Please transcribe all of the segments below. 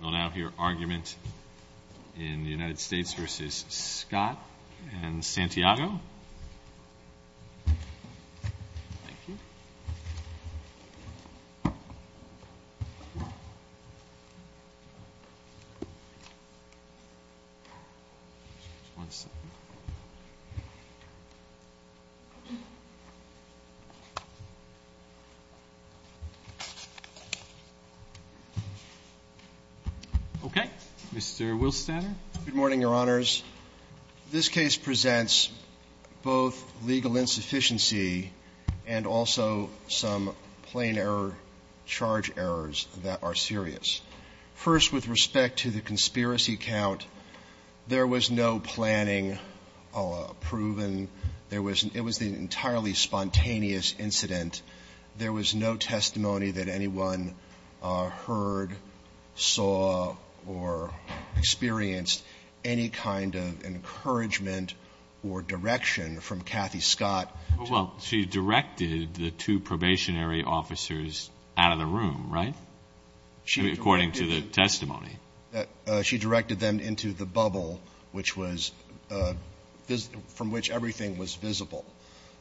They'll now hear argument in the United States v. Scott and Santiago. Okay. Mr. Wilstadter. Good morning, Your Honors. This case presents both legal insufficiency and also some plain error charge errors that are serious. First, with respect to the conspiracy count, there was no planning proven. There was an entirely spontaneous incident. There was no testimony that anyone heard, saw, or experienced any kind of encouragement or direction from Kathy Scott. Well, she directed the two probationary officers out of the room, right? According to the testimony. She directed them into the bubble, which was — from which everything was visible.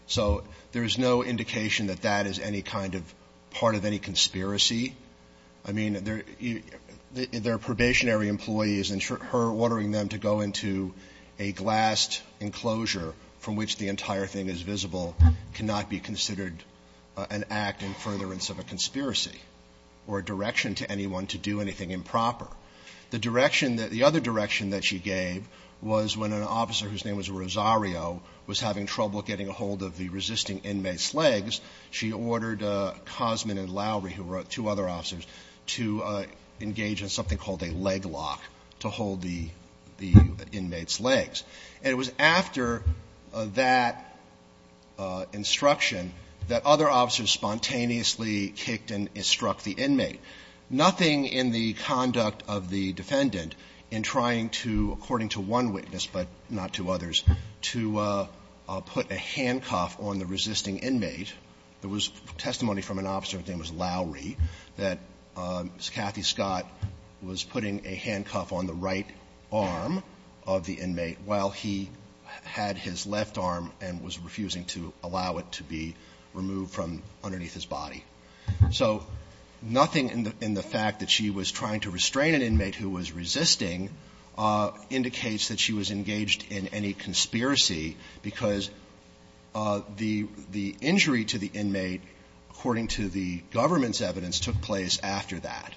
So there is no indication that that is any kind of part of any conspiracy. I mean, they're probationary employees, and her ordering them to go into a glassed enclosure from which the entire thing is visible cannot be considered an act in furtherance of a conspiracy or a direction to anyone to do anything improper. The direction that — the other direction that she gave was when an officer whose job was getting a hold of the resisting inmate's legs, she ordered Cosman and Lowry, who were two other officers, to engage in something called a leg lock to hold the inmate's legs. And it was after that instruction that other officers spontaneously kicked and struck the inmate. Nothing in the conduct of the defendant in trying to, according to one witness but not to others, to put a handcuff on the resisting inmate, there was testimony from an officer whose name was Lowry, that Kathy Scott was putting a handcuff on the right arm of the inmate while he had his left arm and was refusing to allow it to be removed from underneath his body. So nothing in the fact that she was trying to restrain an inmate who was resisting indicates that she was engaged in any conspiracy, because the injury to the inmate, according to the government's evidence, took place after that.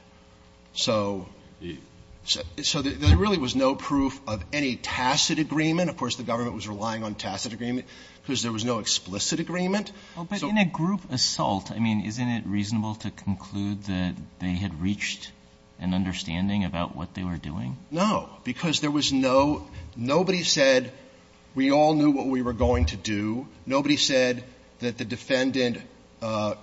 So there really was no proof of any tacit agreement. Of course, the government was relying on tacit agreement because there was no explicit agreement. So the group assault, I mean, isn't it reasonable to conclude that they had reached an understanding about what they were doing? No, because there was no – nobody said we all knew what we were going to do. Nobody said that the defendant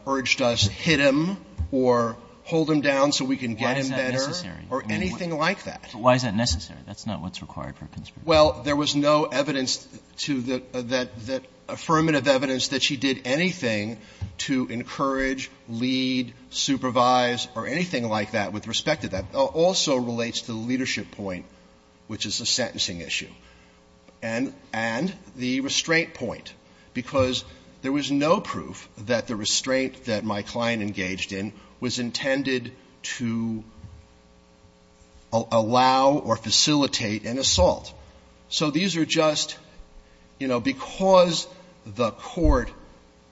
urged us, hit him or hold him down so we can get him better or anything like that. But why is that necessary? That's not what's required for a conspiracy. Well, there was no evidence to the – that affirmative evidence that she did anything to encourage, lead, supervise or anything like that with respect to that. It also relates to the leadership point, which is the sentencing issue, and the restraint point, because there was no proof that the restraint that my client engaged in was intended to allow or facilitate an assault. So these are just – you know, because the court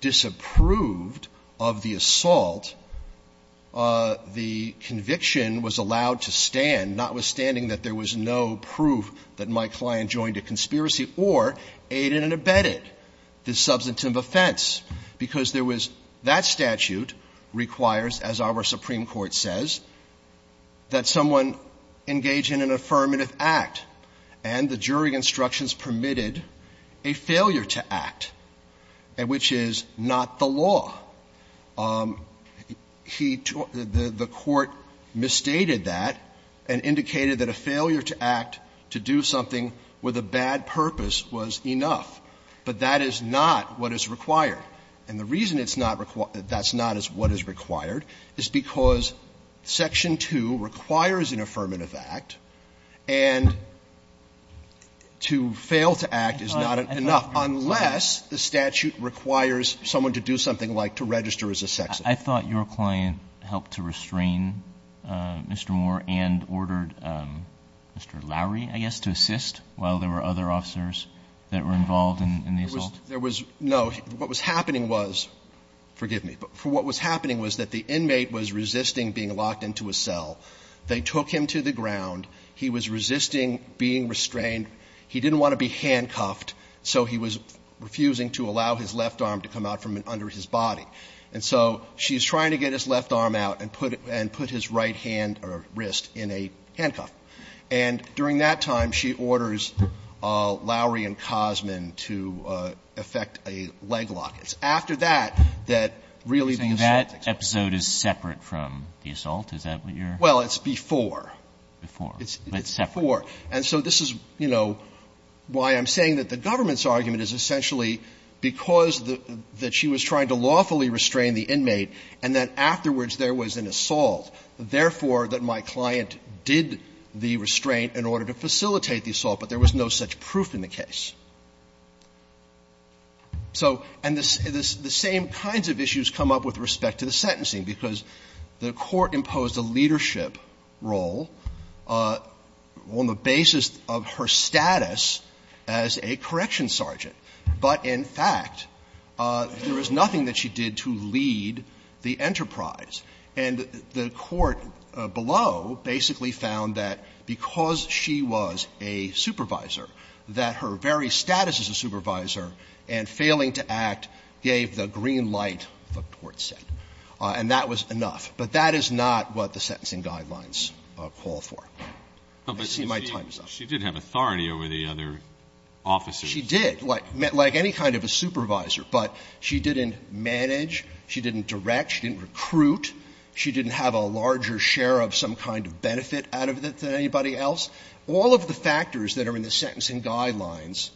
disapproved of the assault, the conviction was allowed to stand, notwithstanding that there was no proof that my client joined a conspiracy or aided and abetted the substantive offense, because there was – that statute requires, as our Supreme Court says, that someone engage in an affirmative act, and the jury instructions permitted a failure to act, which is not the law. He – the court misstated that and indicated that a failure to act, to do something with a bad purpose, was enough. But that is not what is required. And the reason it's not – that's not what is required is because Section 2 requires an affirmative act, and to fail to act is not enough, unless the statute requires someone to do something like to register as a sex offender. I thought your client helped to restrain Mr. Moore and ordered Mr. Lowery, I guess, to assist while there were other officers that were involved in the assault? There was – no. What was happening was – forgive me. But what was happening was that the inmate was resisting being locked into a cell. They took him to the ground. He was resisting being restrained. He didn't want to be handcuffed, so he was refusing to allow his left arm to come out from under his body. And so she's trying to get his left arm out and put his right hand or wrist in a handcuff. And during that time, she orders Lowery and Cosman to effect a leg lock. It's after that that really the assault takes place. So that episode is separate from the assault? Is that what you're – Well, it's before. Before. It's separate. It's before. And so this is, you know, why I'm saying that the government's argument is essentially because the – that she was trying to lawfully restrain the inmate and that afterwards there was an assault, therefore, that my client did the restraint in order to facilitate the assault, but there was no such proof in the case. So – and the same kinds of issues come up with respect to the sentencing, because the Court imposed a leadership role on the basis of her status as a correction sergeant, but in fact, there was nothing that she did to lead the enterprise. And the Court below basically found that because she was a supervisor, that her very status as a supervisor and failing to act gave the green light, the Court said. And that was enough. But that is not what the sentencing guidelines call for. I see my time is up. But she did have authority over the other officers. And she did, like any kind of a supervisor, but she didn't manage, she didn't direct, she didn't recruit, she didn't have a larger share of some kind of benefit out of it than anybody else. All of the factors that are in the sentencing guidelines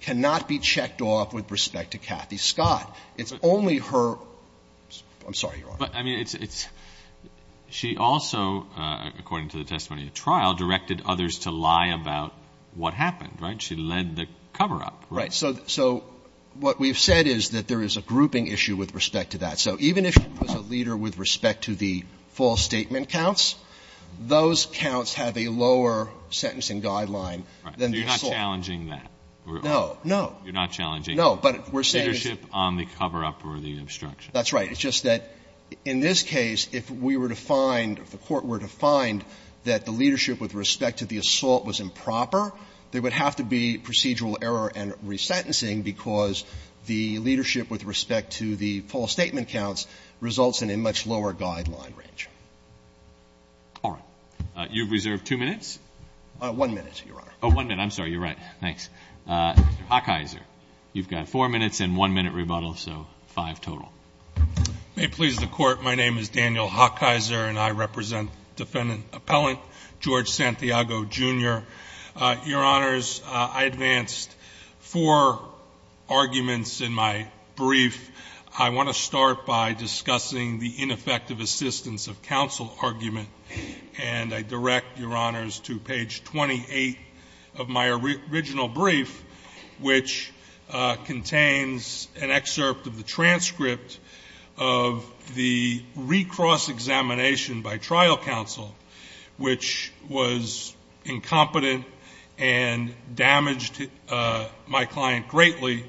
cannot be checked off with respect to Kathy Scott. It's only her – I'm sorry, Your Honor. But, I mean, it's – she also, according to the testimony at trial, directed others to lie about what happened, right? She led the cover-up, right? So what we've said is that there is a grouping issue with respect to that. So even if she was a leader with respect to the false statement counts, those counts have a lower sentencing guideline than the assault. So you're not challenging that? No. No. You're not challenging leadership on the cover-up or the obstruction? That's right. It's just that in this case, if we were to find, if the Court were to find that the procedural error and resentencing, because the leadership with respect to the false statement counts results in a much lower guideline range. All right. You've reserved two minutes? One minute, Your Honor. Oh, one minute. I'm sorry. You're right. Thanks. Mr. Hawkeiser, you've got four minutes and one minute rebuttal, so five total. May it please the Court, my name is Daniel Hawkeiser, and I represent Defendant Appellant George Santiago, Jr. Your Honors, I advanced four arguments in my brief. I want to start by discussing the ineffective assistance of counsel argument, and I direct Your Honors to page 28 of my original brief, which contains an excerpt of the transcript of the recross examination by trial counsel, which was incompetent and damaged my client greatly,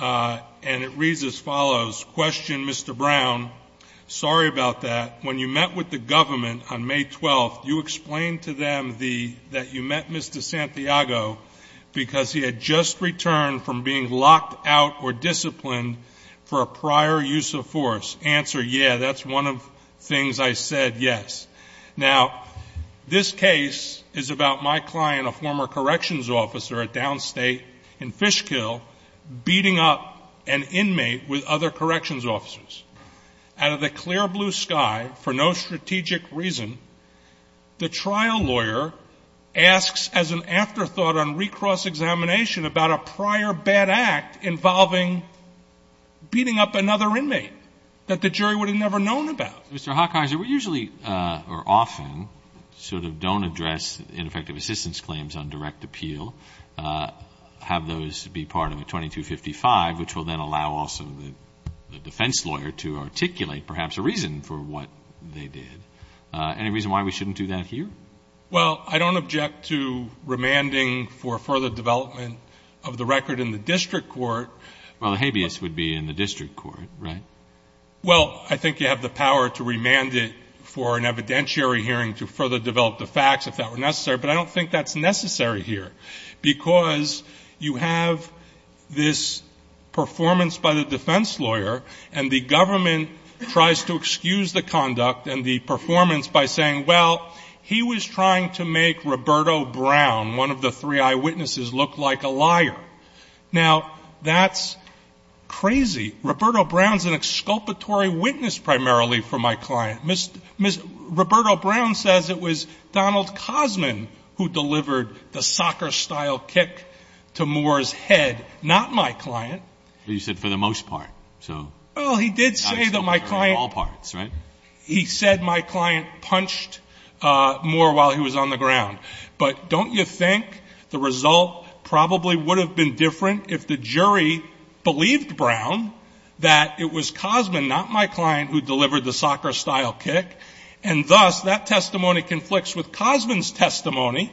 and it reads as follows. Question Mr. Brown, sorry about that. When you met with the government on May 12th, you explained to them that you met Mr. Santiago because he had just returned from being locked out or disciplined for a prior use of force. Answer, yeah, that's one of the things I said, yes. Now, this case is about my client, a former corrections officer at downstate in Fishkill, beating up an inmate with other corrections officers. Out of the clear blue sky, for no strategic reason, the trial lawyer asks as an afterthought on recross examination about a prior bad act involving beating up another inmate that the jury would have never known about. Mr. Hawkeiser, we usually, or often, sort of don't address ineffective assistance claims on direct appeal, have those be part of a 2255, which will then allow also the defense lawyer to articulate perhaps a reason for what they did. Any reason why we shouldn't do that here? Well, I don't object to remanding for further development of the record in the district court. Well, the habeas would be in the district court, right? Well, I think you have the power to remand it for an evidentiary hearing to further develop the facts if that were necessary, but I don't think that's necessary here because you have this performance by the defense lawyer and the government tries to excuse the conduct and the performance by saying, well, he was trying to make Roberto Brown, one of the three eyewitnesses, look like a liar. Now that's crazy. Roberto Brown's an exculpatory witness primarily for my client. Roberto Brown says it was Donald Cosman who delivered the soccer-style kick to Moore's head, not my client. But you said for the most part, so. Well, he did say that my client. All parts, right? He said my client punched Moore while he was on the ground. But don't you think the result probably would have been different if the jury believed Brown that it was Cosman, not my client, who delivered the soccer-style kick? And thus, that testimony conflicts with Cosman's testimony,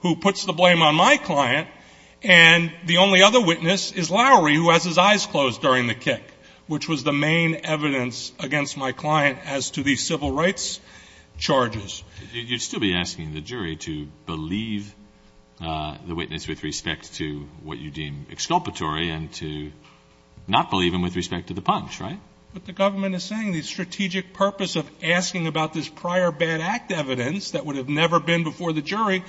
who puts the blame on my client, and the only other witness is Lowry, who has his eyes closed during the kick, which was the main evidence against my client as to these civil rights charges. You'd still be asking the jury to believe the witness with respect to what you deem exculpatory and to not believe him with respect to the punch, right? What the government is saying, the strategic purpose of asking about this prior bad act evidence that would have never been before the jury,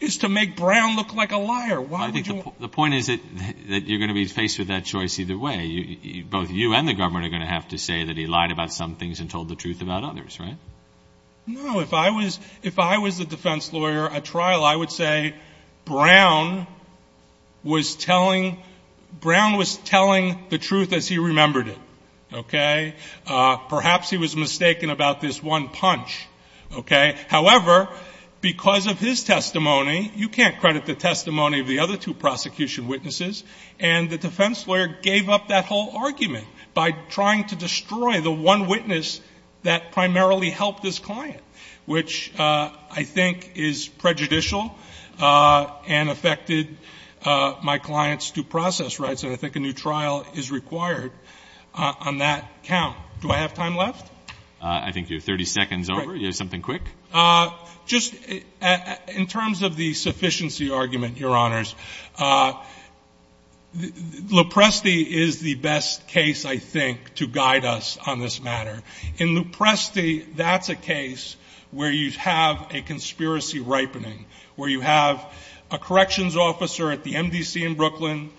is to make Brown look like a liar. Why would you? The point is that you're going to be faced with that choice either way. Both you and the government are going to have to say that he lied about some things and told the truth about others, right? No. If I was a defense lawyer at trial, I would say Brown was telling the truth as he remembered it, okay? Perhaps he was mistaken about this one punch, okay? However, because of his testimony, you can't credit the testimony of the other two prosecution witnesses, and the defense lawyer gave up that whole argument by trying to destroy the one witness that primarily helped his client, which I think is prejudicial and affected my client's due process rights. I think a new trial is required on that count. Do I have time left? I think you have 30 seconds over. Do you have something quick? In terms of the sufficiency argument, your honors, Lopresti is the best case, I think, to guide us on this matter. In Lopresti, that's a case where you have a conspiracy ripening, where you have a corrections officer at the MDC in Brooklyn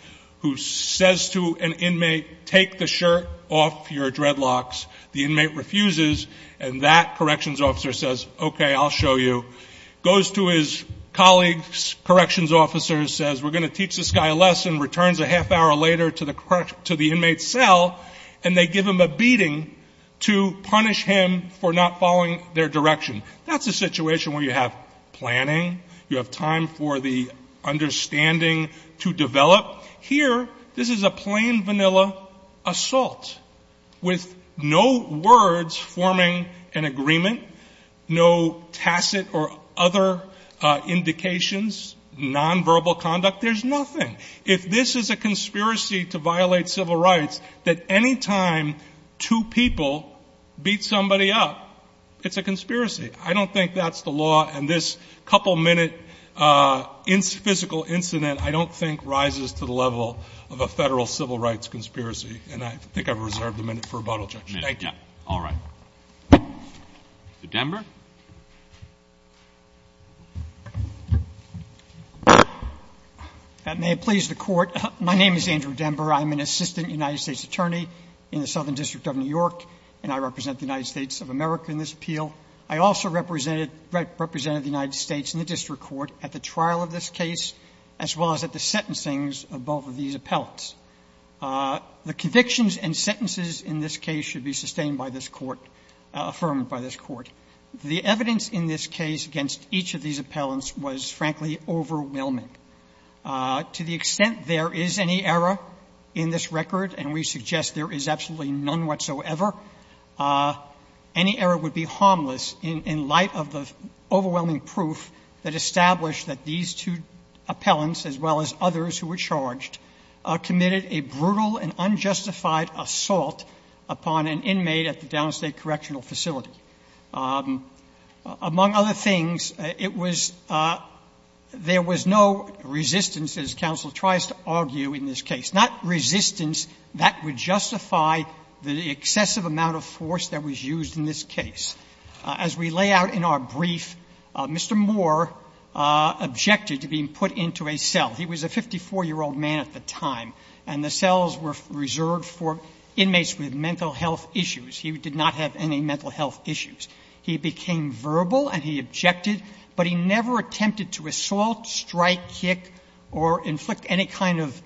who says to an inmate, take the shirt off your dreadlocks. The inmate refuses, and that corrections officer says, okay, I'll show you, goes to his colleague's corrections officer and says, we're going to teach this guy a lesson, returns a half hour later to the inmate's cell, and they give him a beating to punish him for not following their direction. That's a situation where you have planning. You have time for the understanding to develop. Here, this is a plain vanilla assault with no words forming an agreement, no tacit or other indications, nonverbal conduct. There's nothing. If this is a conspiracy to violate civil rights, that any time two people beat somebody up, it's a conspiracy. I don't think that's the law, and this couple-minute physical incident, I don't think, rises to the level of a Federal civil rights conspiracy. And I think I've reserved a minute for rebuttal, Judge. Thank you. Roberts. All right. Mr. Denber? May it please the Court. My name is Andrew Denber. I'm an assistant United States attorney in the Southern District of New York, and I represent the United States of America in this appeal. I also represented the United States in the district court at the trial of this case, as well as at the sentencing of both of these appellants. The convictions and sentences in this case should be sustained by this Court, affirmed by this Court. The evidence in this case against each of these appellants was, frankly, overwhelming. To the extent there is any error in this record, and we suggest there is absolutely none whatsoever, any error would be harmless in light of the overwhelming proof that established that these two appellants, as well as others who were charged, committed a brutal and unjustified assault upon an inmate at the Downstate Correctional Facility. Among other things, it was — there was no resistance, as counsel tries to argue in this case, not resistance that would justify the excessive amount of force that was used in this case. As we lay out in our brief, Mr. Moore objected to being put into a cell. He was a 54-year-old man at the time, and the cells were reserved for inmates with mental health issues. He did not have any mental health issues. He became verbal and he objected, but he never attempted to assault, strike, kick, or inflict any kind of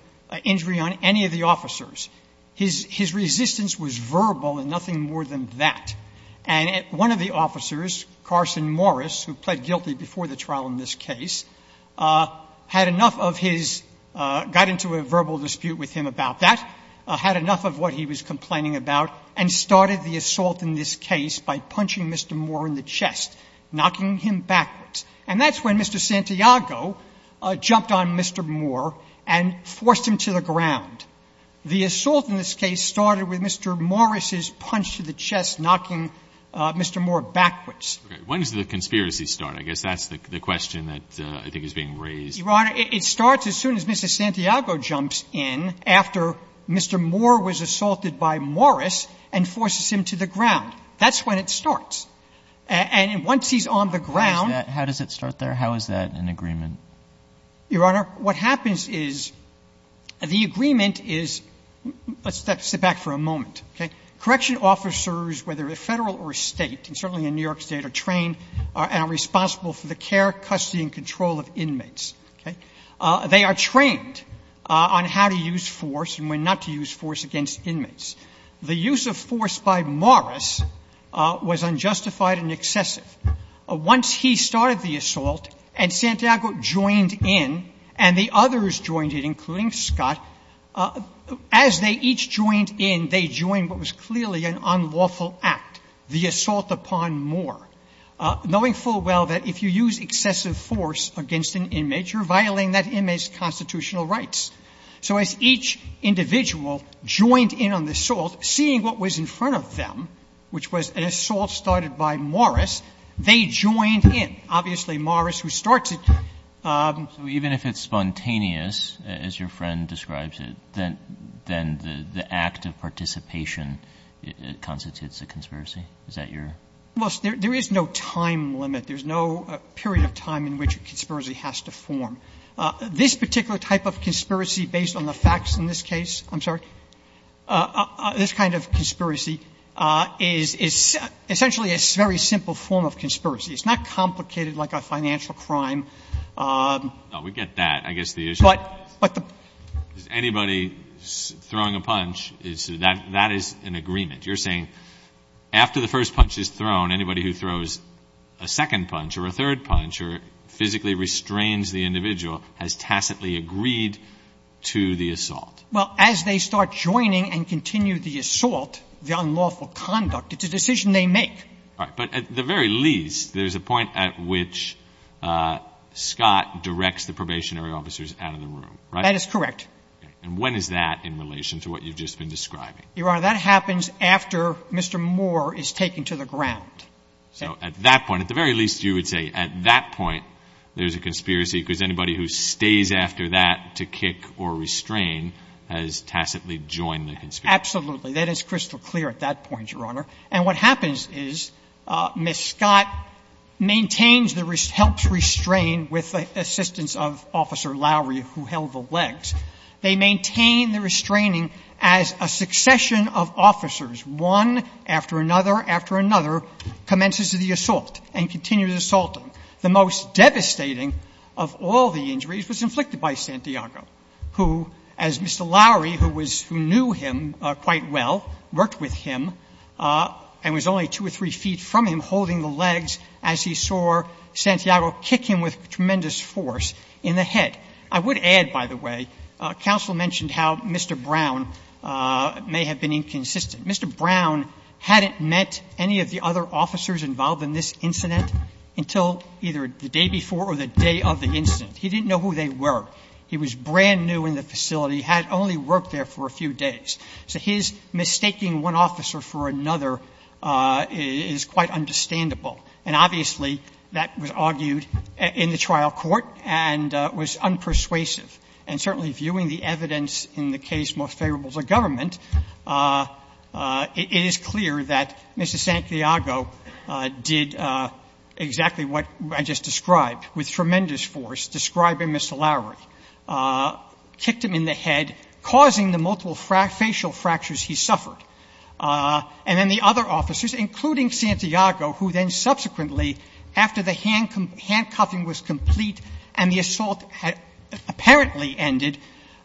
injury on any of the officers. His resistance was verbal and nothing more than that. And one of the officers, Carson Morris, who pled guilty before the trial in this case, had enough of his — got into a verbal dispute with him about that, had enough of what he was complaining about, and started the assault in this case by punching Mr. Moore in the chest, knocking him backwards. And that's when Mr. Santiago jumped on Mr. Moore and forced him to the ground. The assault in this case started with Mr. Morris's punch to the chest, knocking Mr. Moore backwards. Okay. When does the conspiracy start? I guess that's the question that I think is being raised. Your Honor, it starts as soon as Mr. Santiago jumps in after Mr. Moore was assaulted by Morris and forces him to the ground. That's when it starts. And once he's on the ground — How does it start there? How is that an agreement? Your Honor, what happens is the agreement is — let's sit back for a moment, okay? Correction officers, whether they're Federal or State, and certainly in New York State, are trained and are responsible for the care, custody and control of inmates. They are trained on how to use force and when not to use force against inmates. The use of force by Morris was unjustified and excessive. Once he started the assault and Santiago joined in and the others joined in, including Scott, as they each joined in, they joined what was clearly an unlawful act, the assault upon Moore, knowing full well that if you use excessive force against an inmate, you're violating that inmate's constitutional rights. So as each individual joined in on the assault, seeing what was in front of them, which was an assault started by Morris, they joined in. Obviously, Morris, who starts it — So even if it's spontaneous, as your friend describes it, then the act of participation constitutes a conspiracy? Is that your — Well, there is no time limit. There's no period of time in which a conspiracy has to form. This particular type of conspiracy, based on the facts in this case — I'm sorry? This kind of conspiracy is essentially a very simple form of conspiracy. It's not complicated like a financial crime. No, we get that. I guess the issue is anybody throwing a punch, that is an agreement. You're saying after the first punch is thrown, anybody who throws a second punch or a third punch or physically restrains the individual has tacitly agreed to the assault. Well, as they start joining and continue the assault, the unlawful conduct, it's a decision they make. All right. But at the very least, there's a point at which Scott directs the probationary officers out of the room, right? That is correct. And when is that in relation to what you've just been describing? Your Honor, that happens after Mr. Moore is taken to the ground. So at that point, at the very least, you would say at that point there's a conspiracy because anybody who stays after that to kick or restrain has tacitly joined the conspiracy. Absolutely. That is crystal clear at that point, Your Honor. And what happens is Ms. Scott maintains the — helps restrain with the assistance of Officer Lowry, who held the legs. They maintain the restraining as a succession of officers, one after another after another, commences the assault and continues assaulting. The most devastating of all the injuries was inflicted by Santiago, who, as Mr. Lowry, who was — who knew him quite well, worked with him, and was only two or three feet from him holding the legs as he saw Santiago kick him with tremendous force in the head. I would add, by the way, counsel mentioned how Mr. Brown may have been inconsistent. Mr. Brown hadn't met any of the other officers involved in this incident until either the day before or the day of the incident. He didn't know who they were. He was brand new in the facility, had only worked there for a few days. So his mistaking one officer for another is quite understandable. And obviously, that was argued in the trial court and was unpersuasive. And certainly, viewing the evidence in the case Most Favorable to Government, it is clear that Mr. Santiago did exactly what I just described, with tremendous force, describing Mr. Lowry, kicked him in the head, causing the multiple facial fractures he suffered. And then the other officers, including Santiago, who then subsequently, after the case directly ended,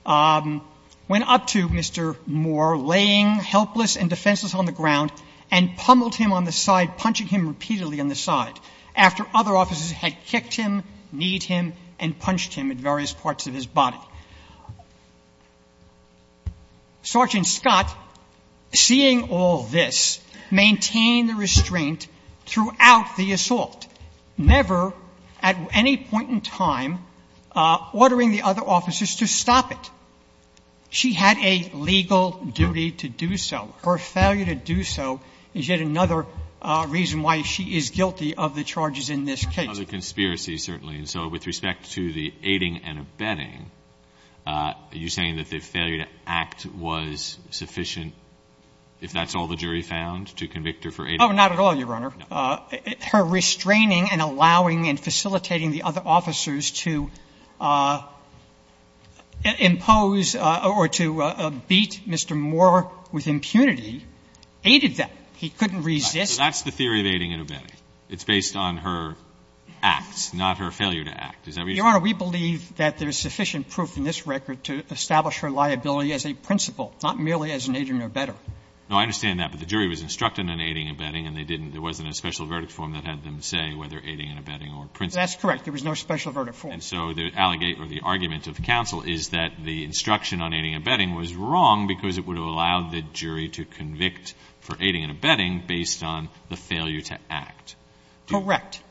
went up to Mr. Moore, laying helpless and defenseless on the ground, and pummeled him on the side, punching him repeatedly on the side, after other officers had kicked him, kneed him, and punched him at various parts of his body. Sergeant Scott, seeing all this, maintained the restraint throughout the assault, never, at any point in time, ordering the other officers to stop it. She had a legal duty to do so. Her failure to do so is yet another reason why she is guilty of the charges in this case. And so with respect to the aiding and abetting, are you saying that the failure to act was sufficient, if that's all the jury found, to convict her for aiding? Oh, not at all, Your Honor. Her restraining and allowing and facilitating the other officers to impose or to beat Mr. Moore with impunity aided them. He couldn't resist. So that's the theory of aiding and abetting. It's based on her acts, not her failure to act. Is that what you're saying? Your Honor, we believe that there's sufficient proof in this record to establish her liability as a principle, not merely as an aiding and abetting. No, I understand that. But the jury was instructed on aiding and abetting, and they didn't – there wasn't a special verdict form that had them say whether aiding and abetting were a principle. That's correct. There was no special verdict form. And so the allegate or the argument of counsel is that the instruction on aiding and abetting was wrong because it would have allowed the jury to convict for aiding and abetting based on the failure to act. Correct.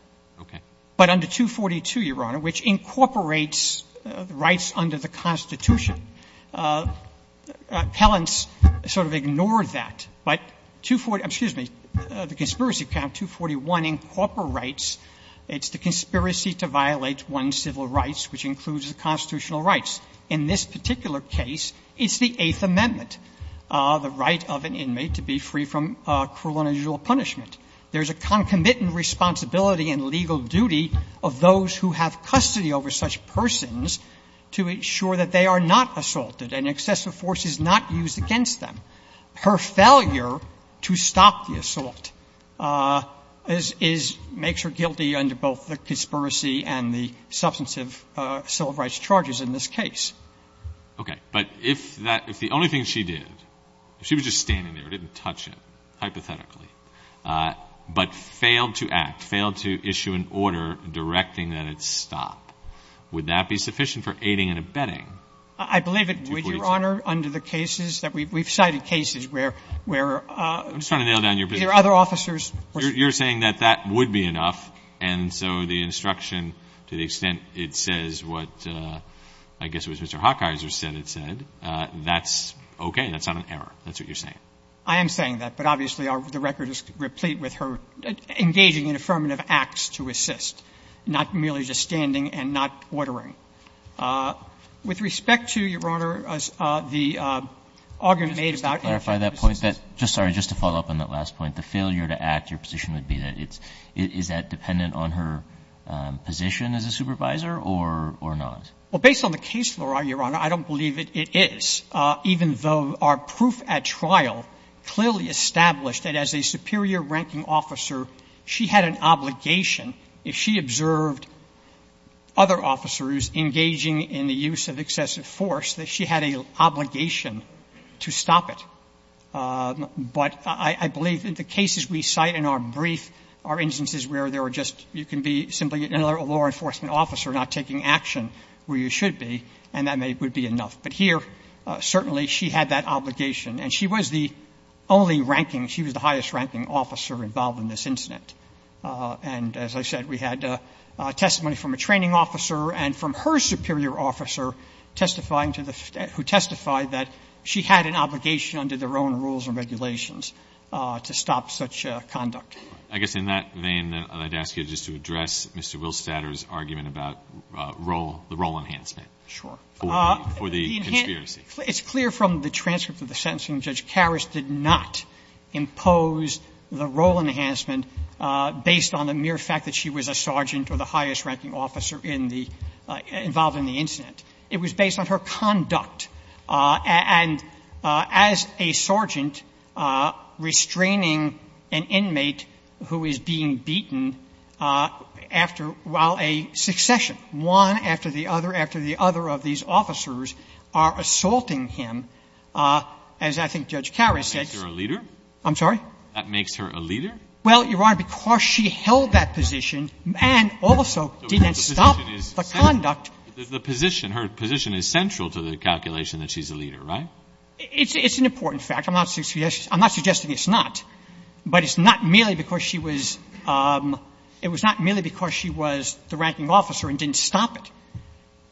Okay. But under 242, Your Honor, which incorporates rights under the Constitution, appellants sort of ignored that. But 240 – excuse me, the conspiracy count 241 incorporates, it's the conspiracy to violate one's civil rights, which includes the constitutional rights. In this particular case, it's the Eighth Amendment, the right of an inmate to be free from cruel and unusual punishment. There's a concomitant responsibility and legal duty of those who have custody over such persons to ensure that they are not assaulted and excessive force is not used against them. Her failure to stop the assault is – makes her guilty under both the conspiracy and the substantive civil rights charges in this case. Okay. But if that – if the only thing she did, if she was just standing there, didn't touch it, hypothetically, but failed to act, failed to issue an order directing that it stop, would that be sufficient for aiding and abetting 242? I believe it would, Your Honor, under the cases that we've cited, cases where – where – I'm just trying to nail down your position. Either other officers were – You're saying that that would be enough, and so the instruction, to the extent it says what I guess it was Mr. Hawkeiser said it said, that's okay, that's not an error, that's what you're saying. I am saying that, but obviously, the record is replete with her engaging in affirmative acts to assist, not merely just standing and not ordering. With respect to, Your Honor, the argument made about interjecting to assist – Just to clarify that point, that – just sorry, just to follow up on that last point. The failure to act, your position would be that it's – is that dependent on her position as a supervisor or not? Well, based on the case law, Your Honor, I don't believe it is, even though our proof at trial clearly established that as a superior ranking officer, she had an obligation if she observed other officers engaging in the use of excessive force, that she had an obligation to stop it. But I believe that the cases we cite in our brief are instances where there were just you can be simply a law enforcement officer not taking action where you should be, and that would be enough. But here, certainly, she had that obligation, and she was the only ranking – she was the highest ranking officer involved in this incident. And as I said, we had testimony from a training officer and from her superior officer testifying to the – who testified that she had an obligation under their own rules and regulations to stop such conduct. All right. I guess in that vein, I'd ask you just to address Mr. Wilstater's argument about role – the role enhancement. Sure. For the conspiracy. It's clear from the transcript of the sentencing, Judge Karras did not impose the role enhancement based on the mere fact that she was a sergeant or the highest ranking officer in the – involved in the incident. It was based on her conduct. And as a sergeant restraining an inmate who is being beaten after – while a succession, one after the other after the other of these officers, are assaulting him, as I think Judge Karras said – That makes her a leader? I'm sorry? That makes her a leader? Well, Your Honor, because she held that position and also didn't stop the conduct The position – her position is central to the calculation that she's a leader, right? It's an important fact. I'm not suggesting it's not. But it's not merely because she was – it was not merely because she was the ranking officer and didn't stop it.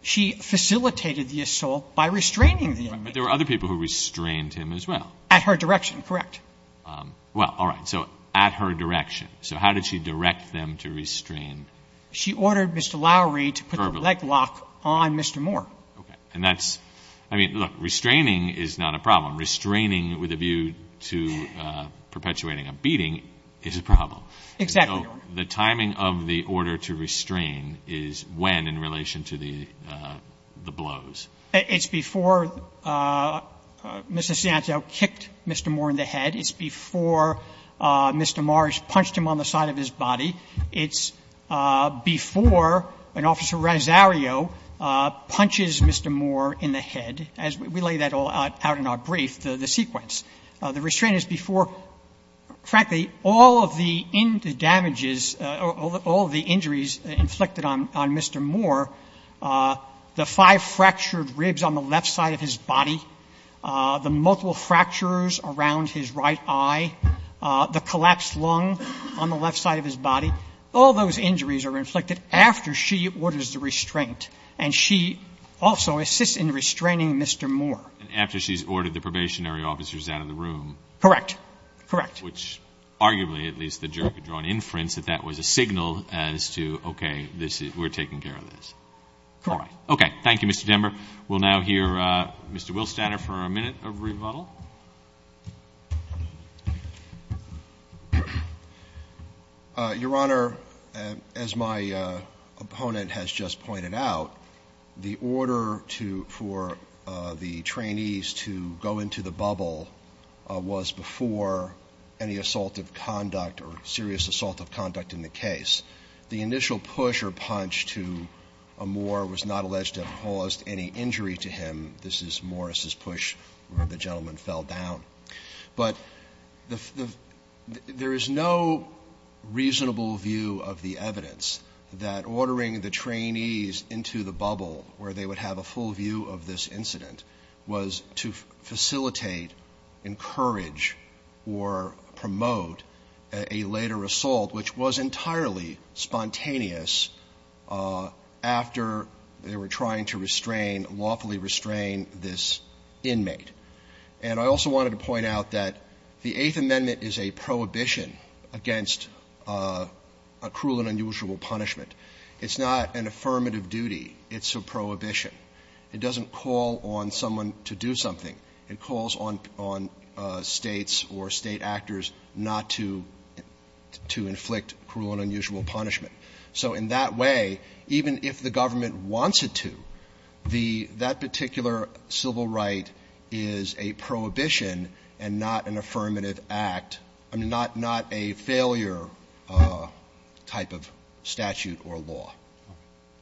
She facilitated the assault by restraining the inmate. But there were other people who restrained him as well. At her direction, correct. Well, all right. So at her direction. So how did she direct them to restrain? She ordered Mr. Lowery to put the leg lock on Mr. Moore. Okay. And that's – I mean, look, restraining is not a problem. Restraining with a view to perpetuating a beating is a problem. Exactly, Your Honor. The timing of the order to restrain is when in relation to the blows? It's before Mr. Santel kicked Mr. Moore in the head. It's before Mr. Marsh punched him on the side of his body. It's before an officer, Rosario, punches Mr. Moore in the head, as we lay that all out in our brief, the sequence. The restraint is before, frankly, all of the damages, all of the injuries inflicted on Mr. Moore, the five fractured ribs on the left side of his body, the multiple fractures around his right eye, the collapsed lung on the left side of his body, all those injuries are inflicted after she orders the restraint. And she also assists in restraining Mr. Moore. And after she's ordered the probationary officers out of the room? Correct. Correct. Which arguably, at least the jury could draw an inference that that was a signal as to, okay, we're taking care of this. Correct. Okay. Thank you, Mr. Dember. We'll now hear Mr. Wilstadter for a minute of rebuttal. Your Honor, as my opponent has just pointed out, the order to – for the trainees to go into the bubble was before any assaultive conduct or serious assaultive conduct in the case. The initial push or punch to Moore was not alleged to have caused any injury to him. This is Morris's push where the gentleman fell down. But the – there is no reasonable view of the evidence that ordering the trainees into the bubble where they would have a full view of this incident was to facilitate, encourage, or promote a later assault, which was entirely spontaneous after they were trying to restrain, lawfully restrain, this inmate. And I also wanted to point out that the Eighth Amendment is a prohibition against a cruel and unusual punishment. It's not an affirmative duty. It's a prohibition. It doesn't call on someone to do something. It calls on States or State actors not to – to inflict cruel and unusual punishment. So in that way, even if the government wants it to, the – that particular civil right is a prohibition and not an affirmative act – I mean, not a failure type of statute or law. TONER.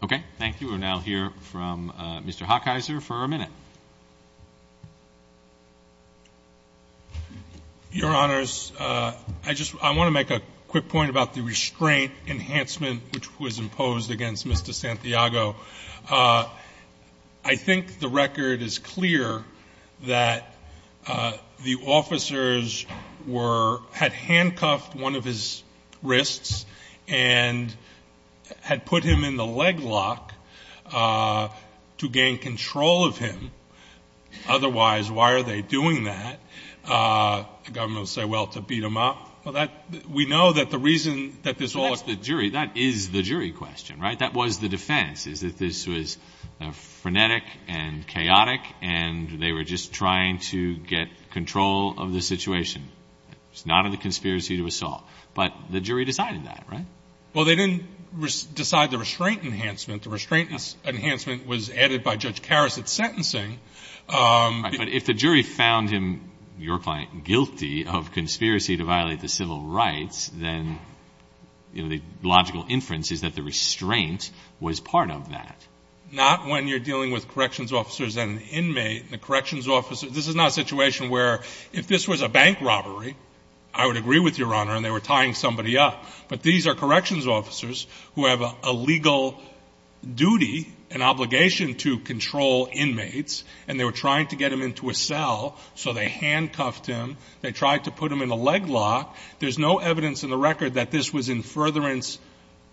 Okay. Thank you. We'll now hear from Mr. Hockeyser for a minute. MR. HOCKEYSER. Your Honors, I just – I want to make a quick point about the restraint enhancement which was imposed against Mr. Santiago. I think the record is clear that the officers were – had handcuffed one of his wrists and had put him in the leg lock to gain control of him. Otherwise, why are they doing that? The government will say, well, to beat him up. Well, that – we know that the reason that this all – MR. COHEN. That's the jury – that is the jury question, right? That was the defense, is that this was frenetic and chaotic and they were just trying to get control of the situation. It was not a conspiracy to assault. But the jury decided that, right? MR. HOCKEYSER. Well, they didn't decide the restraint enhancement. The restraint enhancement was added by Judge Karas at sentencing. MR. COHEN. But if the jury found him, your client, guilty of conspiracy to violate the civil rights, then, you know, the logical inference is that the restraint was part of that. HOCKEYSER. Not when you're dealing with corrections officers and an inmate. And the corrections officers – this is not a situation where if this was a bank robbery, I would agree with your Honor, and they were tying somebody up. But these are corrections officers who have a legal duty, an obligation to control inmates, and they were trying to get him into a cell, so they handcuffed him. They tried to put him in a leg lock. There's no evidence in the record that this was in furtherance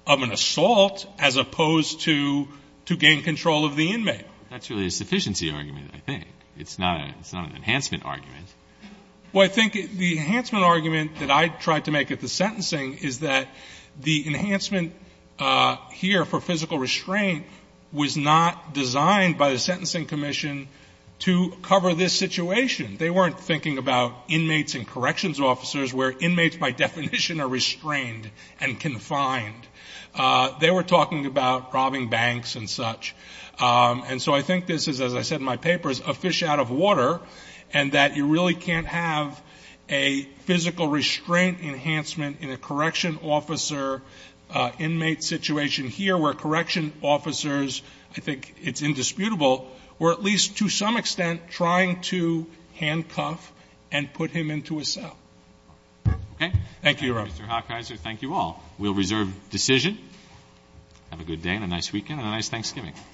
of an assault, as opposed to gain control of the inmate. MR. HOCKEYSER. That's really a sufficiency argument, I think. It's not an enhancement argument. MR. COHEN. Well, I think the enhancement argument that I tried to make at the sentencing is that the enhancement here for physical restraint was not designed by the sentencing commission to cover this situation. They weren't thinking about inmates and corrections officers where inmates, by definition, are restrained and confined. They were talking about robbing banks and such. And so I think this is, as I said in my papers, a fish out of water, and that you really can't have a physical restraint enhancement in a correction officer inmate situation here, where correction officers, I think it's indisputable, were at least to some extent trying to handcuff and put him into a cell. HOCKEYSER. Okay. MR. Thank you, Your Honor. MR. HOCKEYSER. Thank you all. We'll reserve decision. Have a good day and a nice weekend and a nice Thanksgiving.